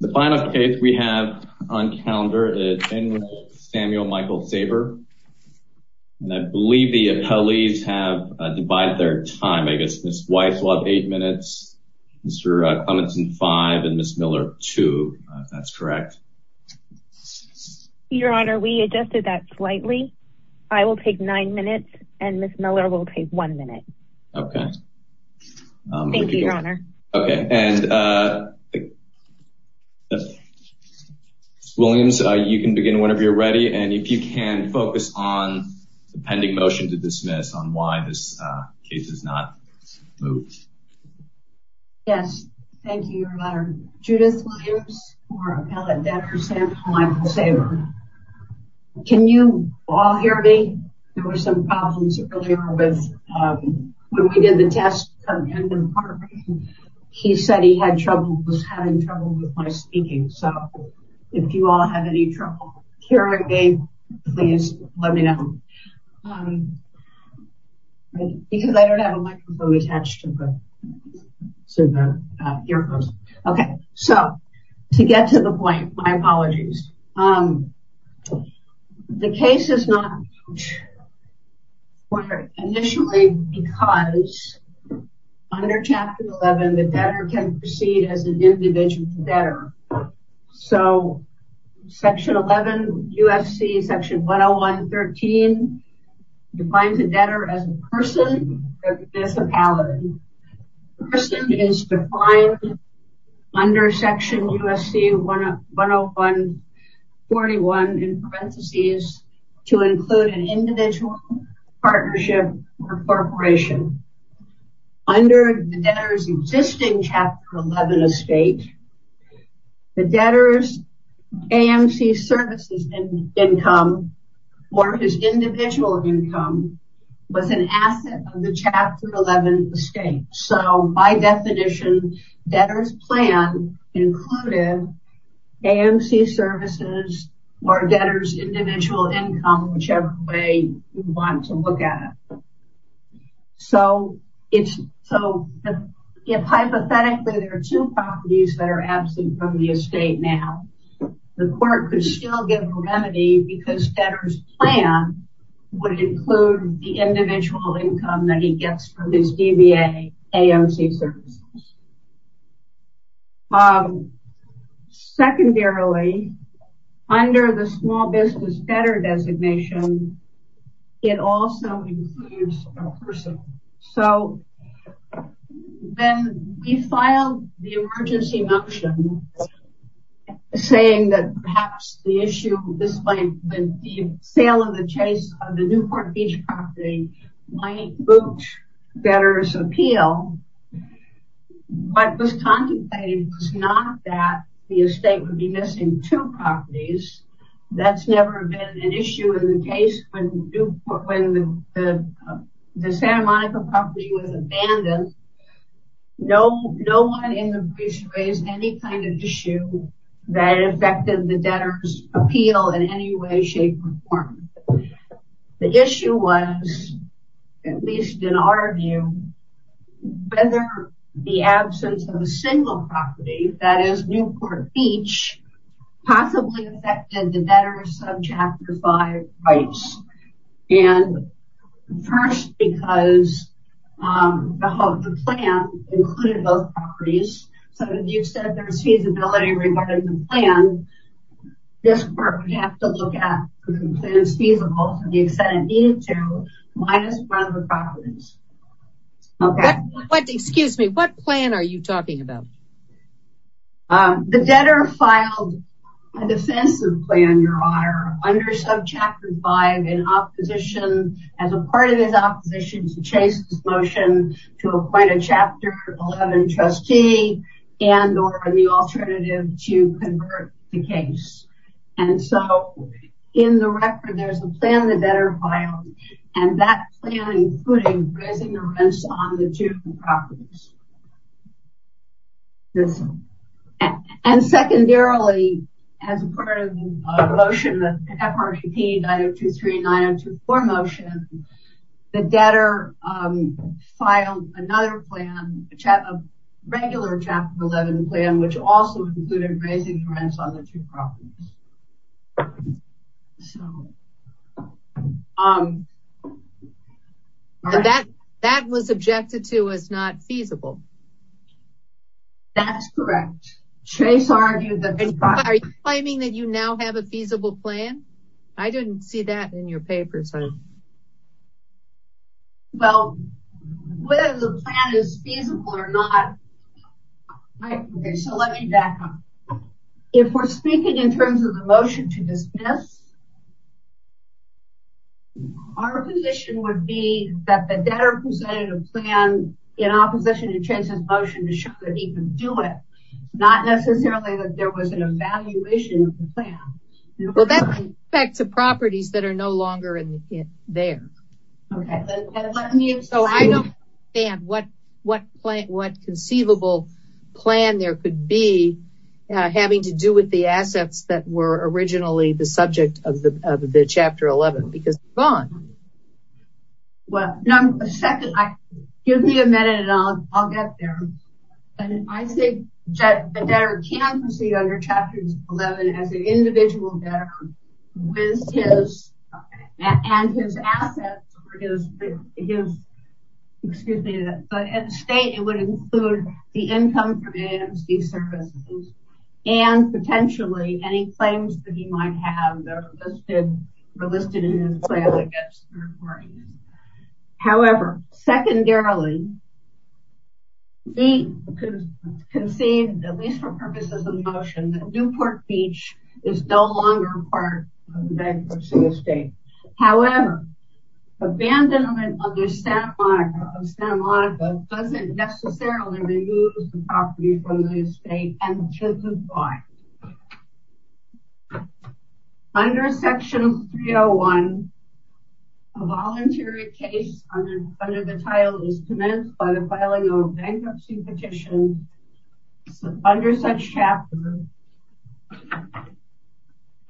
The final case we have on calendar is Samuel Michael Saber and I believe the appellees have divided their time. I guess Ms. Weiss will have eight minutes, Mr. Clementson five and Ms. Miller two, if that's correct. Your Honor, we adjusted that slightly. I will take nine minutes and Ms. Miller will take one minute. Okay. Thank you, Your Honor. Okay and Ms. Williams, you can begin whenever you're ready and if you can focus on the pending motion to dismiss on why this case is not moved. Yes, thank you, Your Honor. Judith Williams for appellate Dr. Samuel Michael Saber. Can you all hear me? There were some problems earlier with when we did the test in the park. He said he had trouble, was having trouble with my speaking. So if you all have any trouble hearing me, please let me know. Because I don't have a microphone attached to the earphones. Okay, so to get to the point, my initially because under chapter 11 the debtor can proceed as an individual debtor. So section 11 USC section 101.13 defines a debtor as a person or a municipality. A person is defined under section USC 101.41 in parentheses to include an individual, partnership, or corporation. Under the debtor's existing chapter 11 estate, the debtor's AMC services income or his individual income was an AMC services or debtor's individual income, whichever way you want to look at it. So it's so if hypothetically there are two properties that are absent from the estate now, the court could still get a remedy because debtor's plan would include the individual income that he gets from his DBA AMC services. Secondarily, under the small business debtor designation, it also includes a person. So then we filed the emergency motion saying that perhaps the issue despite the sale of the chase of the Newport Beach property might boot debtor's appeal. What was contemplated was not that the estate would be missing two properties. That's never been an issue in the case when the Santa Monica property was abandoned. No one in the beach raised any kind of issue that affected the debtor's appeal in any way shape or form. The issue was, at least in our view, whether the absence of a single property, that is Newport Beach, possibly affected the debtor's subchapter 5 rights. And first because the plan included both properties. So if you said there's feasibility regarding the plan, this court would have to look at if the plan is feasible to the extent it needed to, minus one of the properties. Excuse me, what plan are you talking about? The debtor filed a defensive plan, Your Honor, under subchapter 5 in opposition, as a part of his opposition to Chase's motion to appoint a chapter 11 trustee and or the alternative to convert the case. And so in the record, there's a plan the debtor filed and that plan included raising the rents on the two properties. And secondarily, as part of the motion, the FRPP 90239024 motion, the debtor filed another plan, a regular chapter 11 plan, which also included raising the rents on the two properties. That was objected to as not feasible. That's correct. Chase argued that... Are you claiming that you now have a feasible plan? I didn't see that in your papers. Well, whether the plan is feasible or not... So let me back up. If we're speaking in terms of the motion to dismiss, our position would be that the debtor presented a plan in opposition to Chase's motion to show that he could do it, not necessarily that there was an evaluation of the plan. Well, that's back to properties that are no longer in there. So I don't understand what conceivable plan there could be having to do with the assets that were originally the subject of the chapter 11, because they're gone. Give me a minute and I'll get there. I think that the debtor can proceed under chapter 11 as an individual debtor with his assets, but at the state it would include the income from AMC services and potentially any claims that he might have that were listed in his plan. However, secondarily, we conceived, at least for purposes of the motion, that Newport Beach is no longer part of the bankruptcy estate. However, abandonment of the Santa Monica doesn't necessarily remove the property from the estate and the kids would buy. Under Section 301, a voluntary case under the title is commenced by the filing of a bankruptcy petition under such chapter.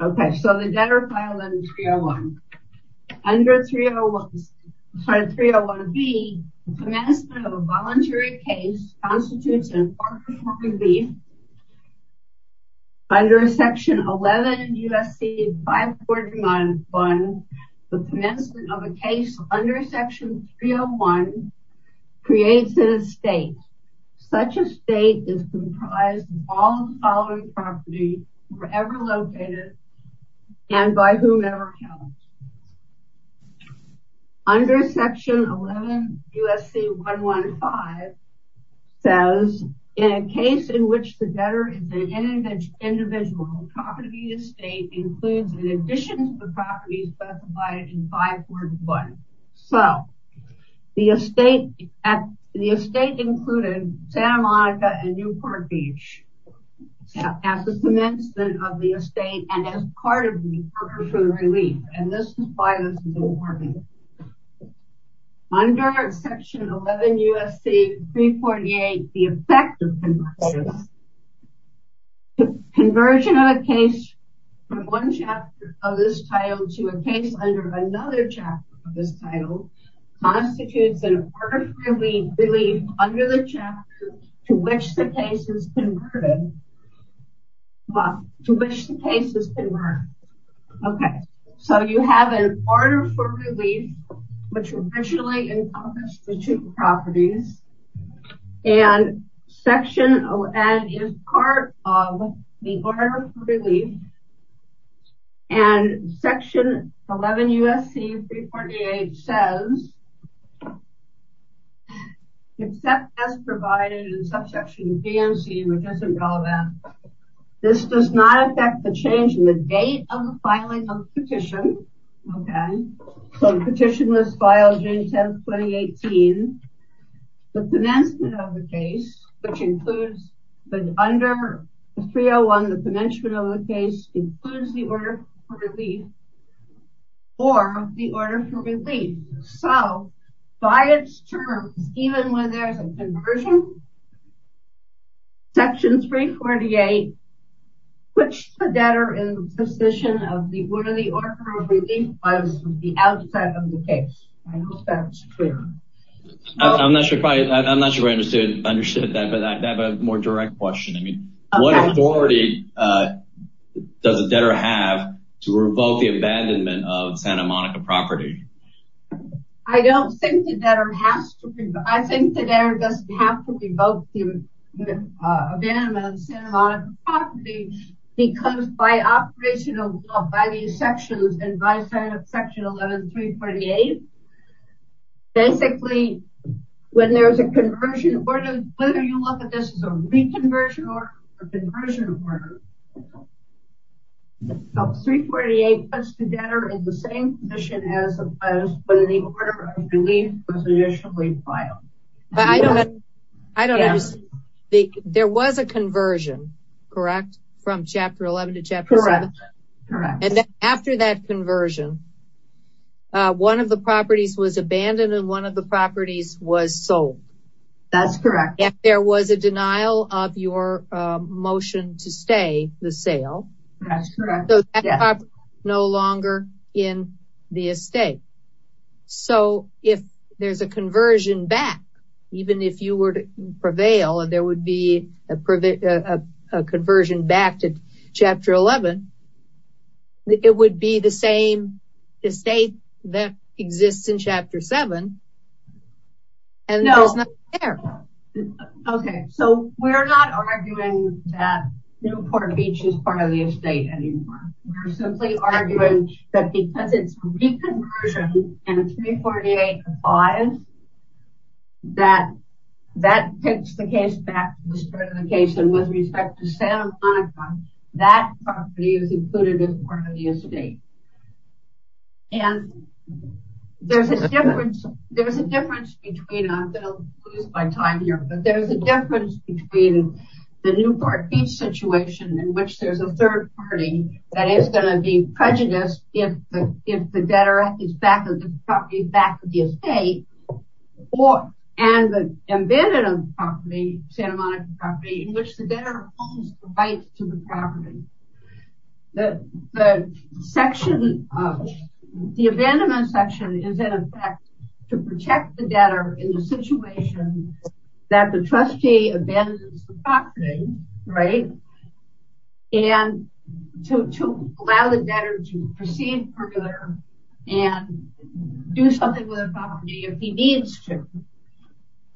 Okay, so the debtor filed under 301. Under 301B, the commencement of a voluntary case constitutes an apartment property. Under Section 11 U.S.C. 5491, the commencement of a case under Section 301 creates an estate. Such estate is comprised of all the following properties, wherever located, and by whomever counts. Under Section 11 U.S.C. 115 says, in a case in which the debtor is an individual, the property estate includes an addition to the property specified in 541. So, the estate included Santa Monica and Newport Beach at the commencement of the estate and as part of Newport for the relief. And this is why this is important. Under Section 11 U.S.C. 348, the effect of conversion. Conversion of a case from one chapter of this title to a case under another chapter of this title constitutes an order for relief under the chapter to which the case is converted. To which the case is converted. Okay, so you have an order for relief, which originally encompassed the two properties. And Section 11 is part of the order for relief. And Section 11 U.S.C. 348 says, except as provided in subsection GMC, which isn't relevant, this does not affect the change in the date of the filing of the petition. Okay, so the petition was filed June 10, 2018. The commencement of the case, which includes under 301, the commencement of the case, includes the order for relief. Or, the order for relief. So, by its terms, even when there's a conversion, Section 348 puts the debtor in the position of the order of relief was the outset of the case. I hope that's clear. I'm not sure if I understood that, but I have a more direct question. What authority does a debtor have to revoke the abandonment of Santa Monica property? I don't think the debtor has to, I think the debtor doesn't have to revoke the abandonment of Santa Monica property, because by operation of law, by these sections, and by Section 11, 348, basically, when there's a conversion order, whether you look at this as a reconversion order or a conversion order, 348 puts the debtor in the same position as opposed to the order of relief was initially filed. I don't understand. There was a conversion, correct, from Chapter 11 to Chapter 7? Correct. And then after that conversion, one of the properties was abandoned and one of the properties was sold. That's correct. If there was a denial of your motion to stay the sale. That's correct. So that property is no longer in the estate. So if there's a conversion back, even if you were to prevail and there would be a conversion back to Chapter 11, it would be the same estate that exists in Chapter 7, and there's nothing there. Okay, so we're not arguing that Newport Beach is part of the estate anymore. We're simply arguing that because it's reconversion and 348 applies, that that takes the case back to the start of the case and with respect to Santa Monica, that property is included as part of the estate. And there's a difference between, I'm going to lose my time here, but there's a difference between the Newport Beach situation in which there's a third party that is going to be prejudiced if the debtor is back at the property, back at the estate, and the abandonment of the property, Santa Monica property, in which the debtor holds the right to the property. The section, the abandonment section is in effect to protect the debtor in the situation that the trustee abandons the property, right, and to allow the debtor to proceed further and do something with the property if he needs to.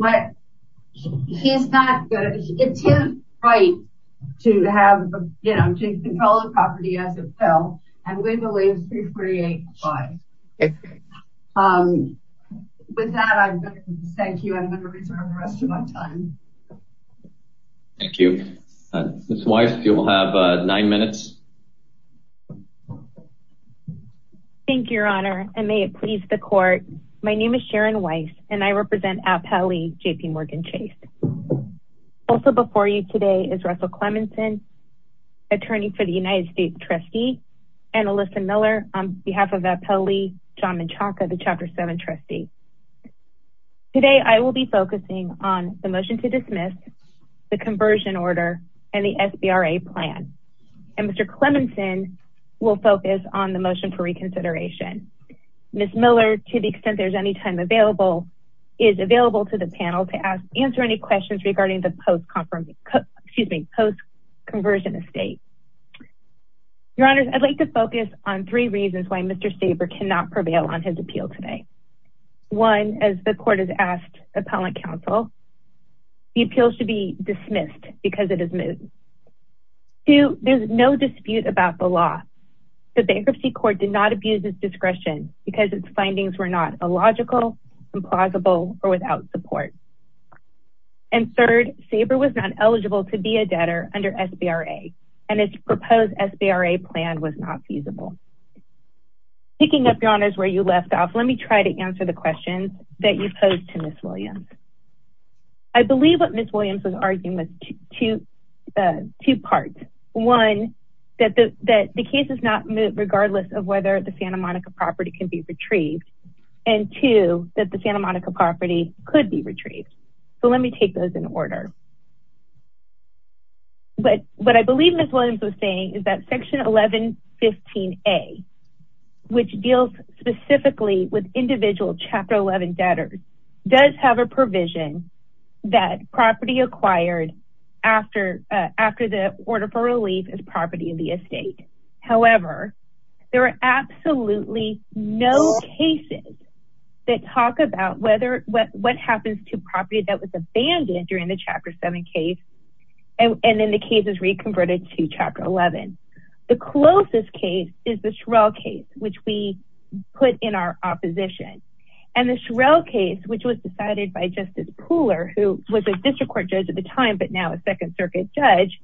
But he's not, it's his right to have, you know, to control the property as it fell, and we believe 348 applies. With that, I'm going to thank you, and I'm going to reserve the rest of my time. Thank you. Ms. Weiss, you will have nine minutes. Thank you, Your Honor, and may it please the court. My name is Sharon Weiss, and I represent Appellee JPMorgan Chase. Also before you today is Russell Clemonson, attorney for the United States trustee, and Alyssa Miller on behalf of Appellee John Menchaca, the Chapter 7 trustee. Today, I will be focusing on the motion to dismiss, the conversion order, and the SBRA plan. And Mr. Clemonson will focus on the motion for reconsideration. Ms. Miller, to the extent there's any time available, is available to the panel to answer any questions regarding the post-conversion estate. Your Honors, I'd like to focus on three reasons why Mr. Staber cannot prevail on his appeal today. One, as the court has asked appellate counsel, the appeal should be dismissed because it is moved. Two, there's no dispute about the law. The bankruptcy court did not abuse its discretion because its findings were not illogical, implausible, or without support. And third, Staber was not eligible to be a debtor under SBRA, and its proposed SBRA plan was not feasible. Picking up, Your Honors, where you left off, let me try to answer the questions that you posed to Ms. Williams. I believe what Ms. Williams was arguing was two parts. One, that the case is not moved regardless of whether the Santa Monica property can be retrieved. And two, that the Santa Monica property could be retrieved. So let me take those in order. But what I believe Ms. Williams was saying is that Section 1115A, which deals specifically with individual Chapter 11 debtors, does have a provision that property acquired after the order for relief is property of the estate. However, there are absolutely no cases that talk about what happens to property that was abandoned during the Chapter 7 case, and then the case is reconverted to Chapter 11. The closest case is the Shirell case, which we put in our opposition. And the Shirell case, which was decided by Justice Pooler, who was a district court judge at the time but now a Second Circuit judge,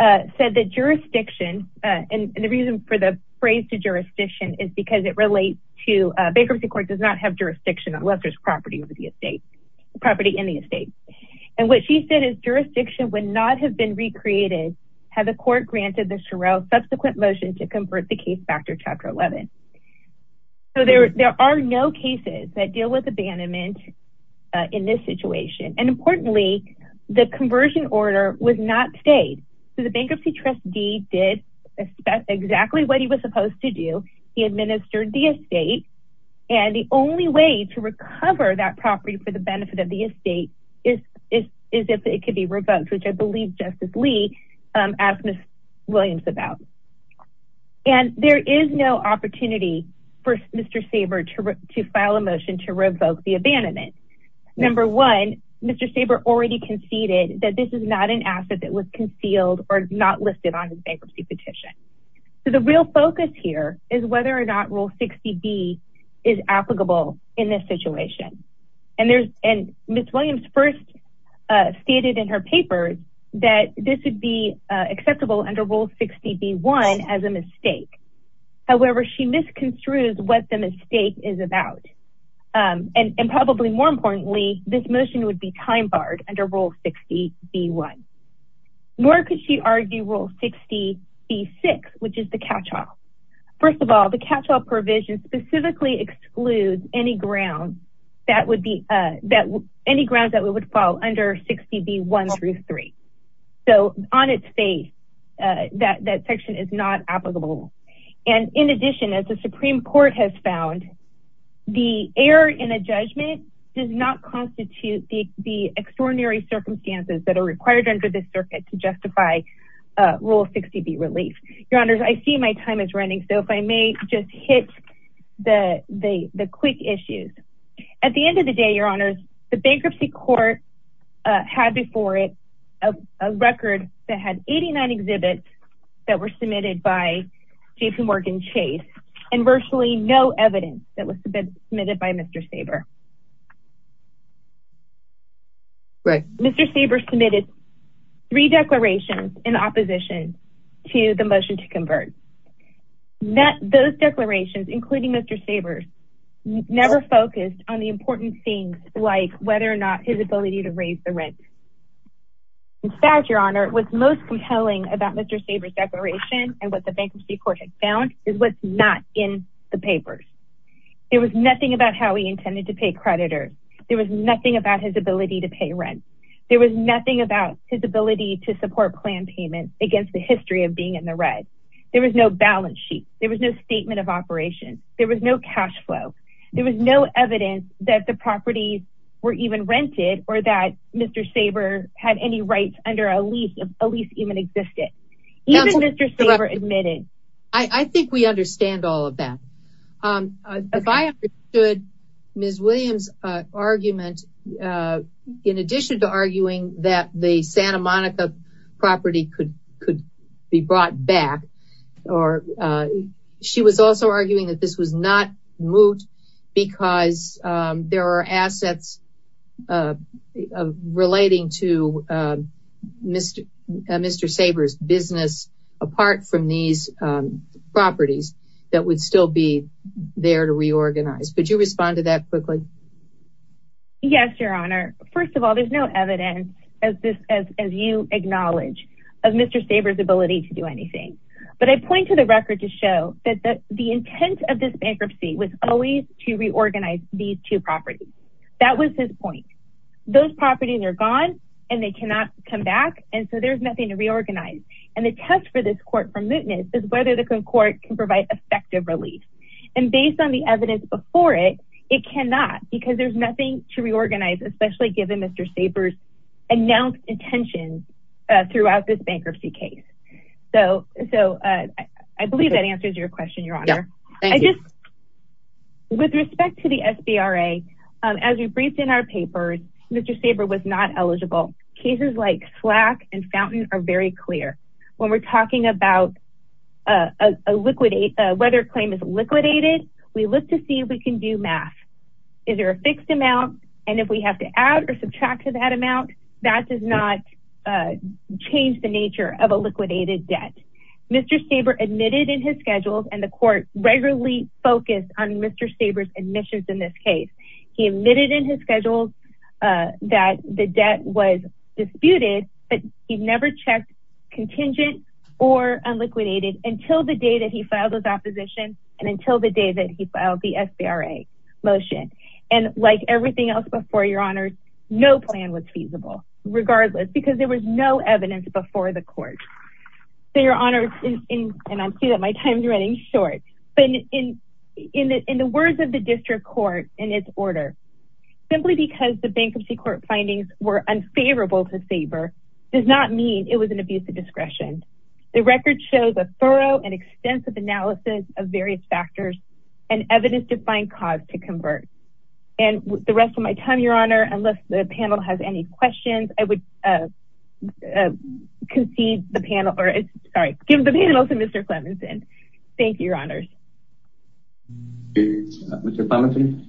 said that jurisdiction, and the reason for the phrase to jurisdiction is because it relates to bankruptcy court does not have jurisdiction unless there's property in the estate. And what she said is jurisdiction would not have been recreated had the court granted the Shirell subsequent motion to convert the case back to Chapter 11. So there are no cases that deal with abandonment in this situation. And importantly, the conversion order was not stayed. So the bankruptcy trustee did exactly what he was supposed to do. He administered the estate. And the only way to recover that property for the benefit of the estate is if it could be revoked, which I believe Justice Lee asked Ms. Williams about. And there is no opportunity for Mr. Saber to file a motion to revoke the abandonment. Number one, Mr. Saber already conceded that this is not an asset that was concealed or not listed on his bankruptcy petition. So the real focus here is whether or not Rule 60B is applicable in this situation. And Ms. Williams first stated in her paper that this would be acceptable under Rule 60B-1 as a mistake. However, she misconstrued what the mistake is about. And probably more importantly, this motion would be time-barred under Rule 60B-1. Nor could she argue Rule 60B-6, which is the catch-all. First of all, the catch-all provision specifically excludes any grounds that would fall under 60B-1 through 3. So on its face, that section is not applicable. And in addition, as the Supreme Court has found, the error in a judgment does not constitute the extraordinary circumstances that are required under this circuit to justify Rule 60B relief. Your Honors, I see my time is running, so if I may just hit the quick issues. At the end of the day, Your Honors, the bankruptcy court had before it a record that had 89 exhibits that were submitted by Jason Morgan Chase. And virtually no evidence that was submitted by Mr. Saber. Mr. Saber submitted three declarations in opposition to the motion to convert. Those declarations, including Mr. Saber's, never focused on the important things like whether or not his ability to raise the rent. In fact, Your Honor, what's most compelling about Mr. Saber's declaration and what the bankruptcy court had found is what's not in the papers. There was nothing about how he intended to pay creditors. There was nothing about his ability to pay rent. There was nothing about his ability to support plan payments against the history of being in the red. There was no balance sheet. There was no statement of operations. There was no cash flow. There was no evidence that the properties were even rented or that Mr. Saber had any rights under a lease, a lease even existed. Even Mr. Saber admitting. I think we understand all of that. If I understood Ms. Williams argument, in addition to arguing that the Santa Monica property could be brought back, or she was also arguing that this was not moot because there are assets relating to Mr. Saber's business, apart from these properties that would still be there to reorganize. Could you respond to that quickly? Yes, Your Honor. First of all, there's no evidence as you acknowledge of Mr. Saber's ability to do anything. But I point to the record to show that the intent of this bankruptcy was always to reorganize these two properties. That was his point. Those properties are gone and they cannot come back. And so there's nothing to reorganize. The question for this court for mootness is whether the court can provide effective relief. And based on the evidence before it, it cannot, because there's nothing to reorganize, especially given Mr. Saber's announced intentions throughout this bankruptcy case. So I believe that answers your question, Your Honor. Thank you. With respect to the SBRA, as we briefed in our papers, Mr. Saber was not eligible. Cases like Slack and Fountain are very clear. When we're talking about whether a claim is liquidated, we look to see if we can do math. Is there a fixed amount? And if we have to add or subtract to that amount, that does not change the nature of a liquidated debt. Mr. Saber admitted in his schedules, and the court regularly focused on Mr. Saber's admissions in this case. He admitted in his schedules that the debt was disputed, but he never checked contingent or unliquidated until the day that he filed his opposition and until the day that he filed the SBRA motion. And like everything else before, Your Honor, no plan was feasible, regardless, because there was no evidence before the court. So Your Honor, and I see that my time is running short, but in the words of the district court in its order, simply because the bankruptcy court findings were unfavorable to Saber does not mean it was an abuse of discretion. The record shows a thorough and extensive analysis of various factors and evidence-defined cause to convert. And the rest of my time, Your Honor, unless the panel has any questions, I would concede the panel, or sorry, give the panel to Mr. Clemmonson. Thank you, Your Honor. Mr. Clemmonson.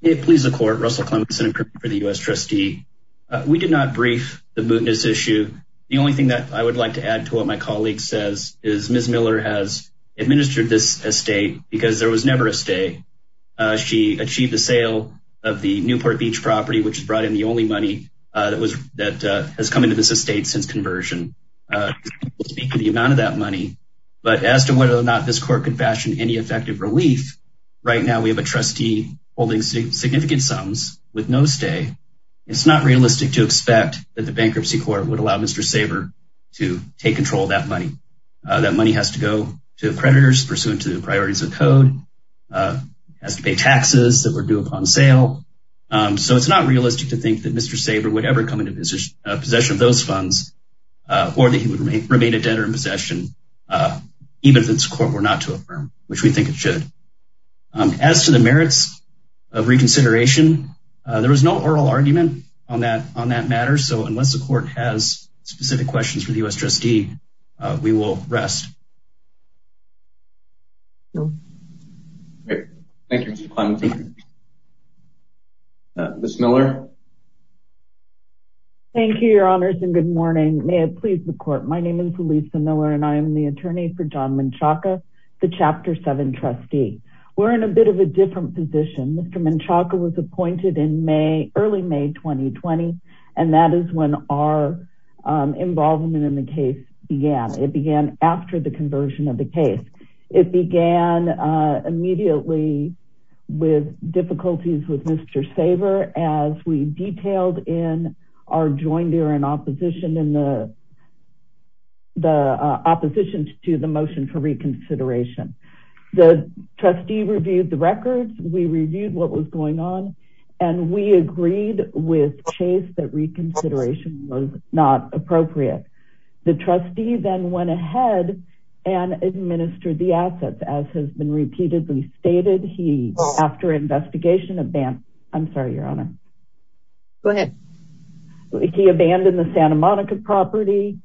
It pleases the court, Russell Clemmonson for the U.S. Trustee. We did not brief the mootness issue. The only thing that I would like to add to what my colleague says is Ms. Miller has administered this estate because there was never a stay. She achieved the sale of the Newport Beach property, which brought in the only money that has come into this estate since conversion. We'll speak to the amount of that money, but as to whether or not this court could fashion any effective relief, right now we have a trustee holding significant sums with no stay. It's not realistic to expect that the bankruptcy court would allow Mr. Saber to take control of that money. That money has to go to creditors pursuant to the priorities of the code, has to pay taxes that were due upon sale. So it's not realistic to think that Mr. Saber would ever come into possession of those funds or that he would remain a debtor in possession. Even if this court were not to affirm, which we think it should. As to the merits of reconsideration, there was no oral argument on that matter. So unless the court has specific questions for the U.S. Trustee, we will rest. Ms. Miller. Thank you, your honors, and good morning. May it please the court. My name is Elisa Miller and I am the attorney for John Menchaca, the Chapter 7 trustee. We're in a bit of a different position. Mr. Menchaca was appointed in May, early May 2020, and that is when our involvement in the case began. It began after the conversion of the case. It began immediately with difficulties with Mr. Saber as we detailed in our joint hearing in opposition to the motion for reconsideration. The trustee reviewed the records. We reviewed what was going on and we agreed with Chase that reconsideration was not appropriate. The trustee then went ahead and administered the assets as has been repeatedly stated. He, after investigation, abandoned. I'm sorry, your honor. Go ahead. He abandoned the Santa Monica property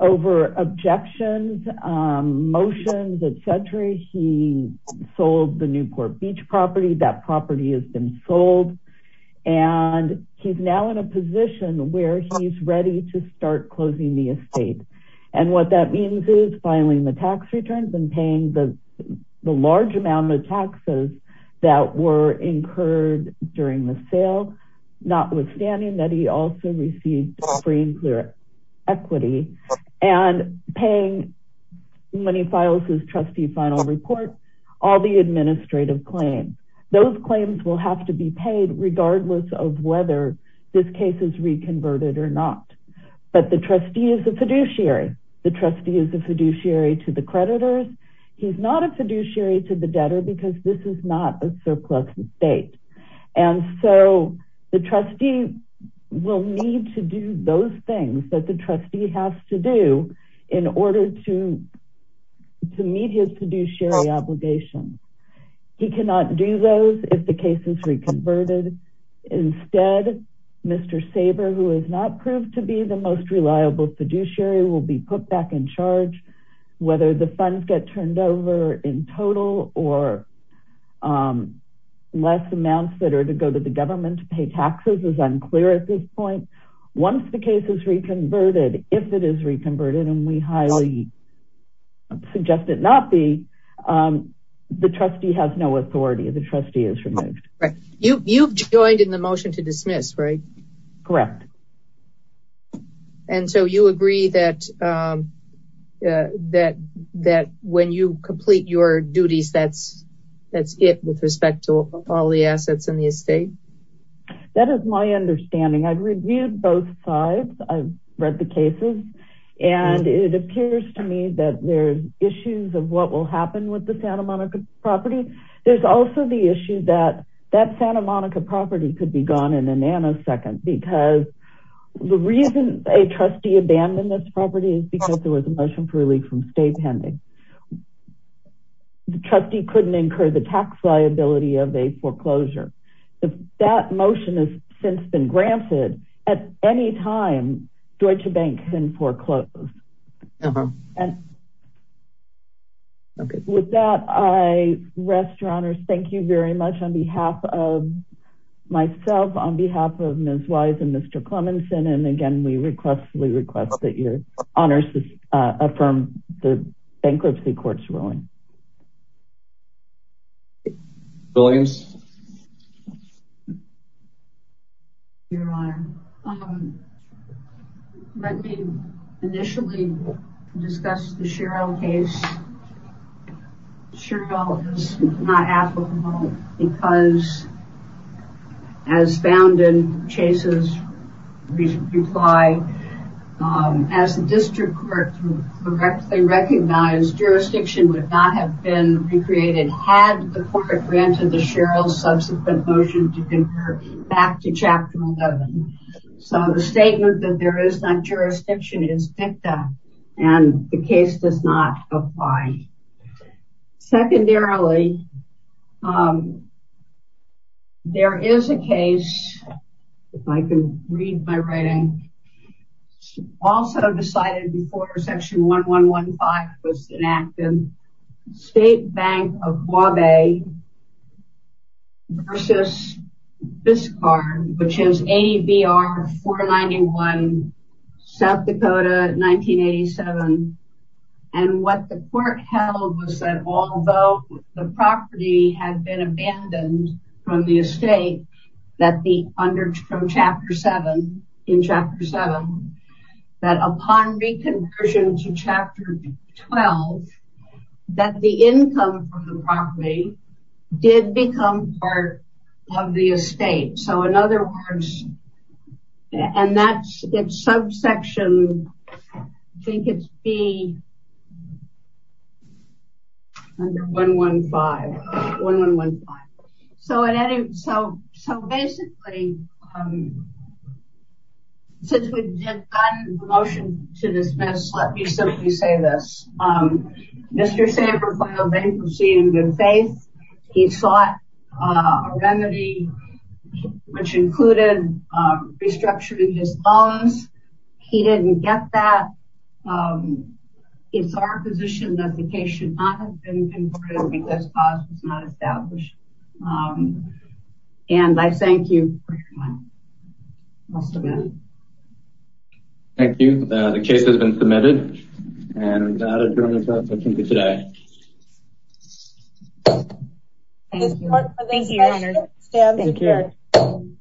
over objections, motions, et cetera. He sold the Newport Beach property. That property has been sold, and he's now in a position where he's ready to start closing the estate. And what that means is filing the tax returns and paying the large amount of taxes that were incurred during the sale, notwithstanding that he also received free and clear equity and paying, when he files his trustee final report, all the administrative claims. Those claims will have to be paid regardless of whether this case is reconverted or not. But the trustee is a fiduciary. The trustee is a fiduciary to the creditors. He's not a fiduciary to the debtor because this is not a surplus estate. And so the trustee will need to do those things that the trustee has to do in order to meet his fiduciary obligations. He cannot do those if the case is reconverted. Instead, Mr. Saber, who has not proved to be the most reliable fiduciary, will be put back in charge, whether the funds get turned over in total or less amounts that are to go to the government to pay taxes is unclear at this point. Once the case is reconverted, if it is reconverted, and we highly suggest it not be, the trustee has no authority. The trustee is removed. You've joined in the motion to dismiss, right? Correct. And so you agree that when you complete your duties that's it with respect to all the assets in the estate? That is my understanding. I've reviewed both sides. I've read the cases. And it appears to me that there's issues of what will happen with the Santa Monica property. There's also the issue that that Santa Monica property could be gone in a nanosecond because the reason a trustee abandoned this property is because there was a motion for a leak from state pending. The trustee couldn't incur the tax liability of a foreclosure. If that motion has since been granted at any time, Deutsche Bank can foreclose. Okay. With that, I rest your honors. Thank you very much on behalf of myself, on behalf of Ms. Wise and Mr. Clemmonson. And again, we request that your honors affirm the bankruptcy court's ruling. Williams? Your honor, let me initially discuss the Sherrill case. Sherrill is not applicable because as found in Chase's reply, as the district court correctly recognized, jurisdiction would not have been recreated had the court granted the Sherrill subsequent motion to convert back to Chapter 11. So the statement that there is not jurisdiction is dicta. And the case does not apply. Secondarily, there is a case, if I can read my writing, also decided before Section 1115 was enacted, State Bank of Hawaii versus Fiscar, which is ABR 491, South Dakota, 1987. And what the court held was that although the property had been abandoned from the estate, that under Chapter 7, in Chapter 7, that upon reconversion to Chapter 12, that the income from the property did become part of the estate. So in other words, and that's in subsection, I think it's B, under 115, 1115. So basically, since we've gotten the motion to dismiss, let me simply say this. Mr. Saber filed bankruptcy in good faith. He sought a remedy, which included restructuring his loans. He didn't get that. It's our position that the case should not have been converted because cause was not established. And I thank you. I'll stop there. Thank you. The case has been submitted. And I'll adjourn the hearing for today. Thank you. Thank you.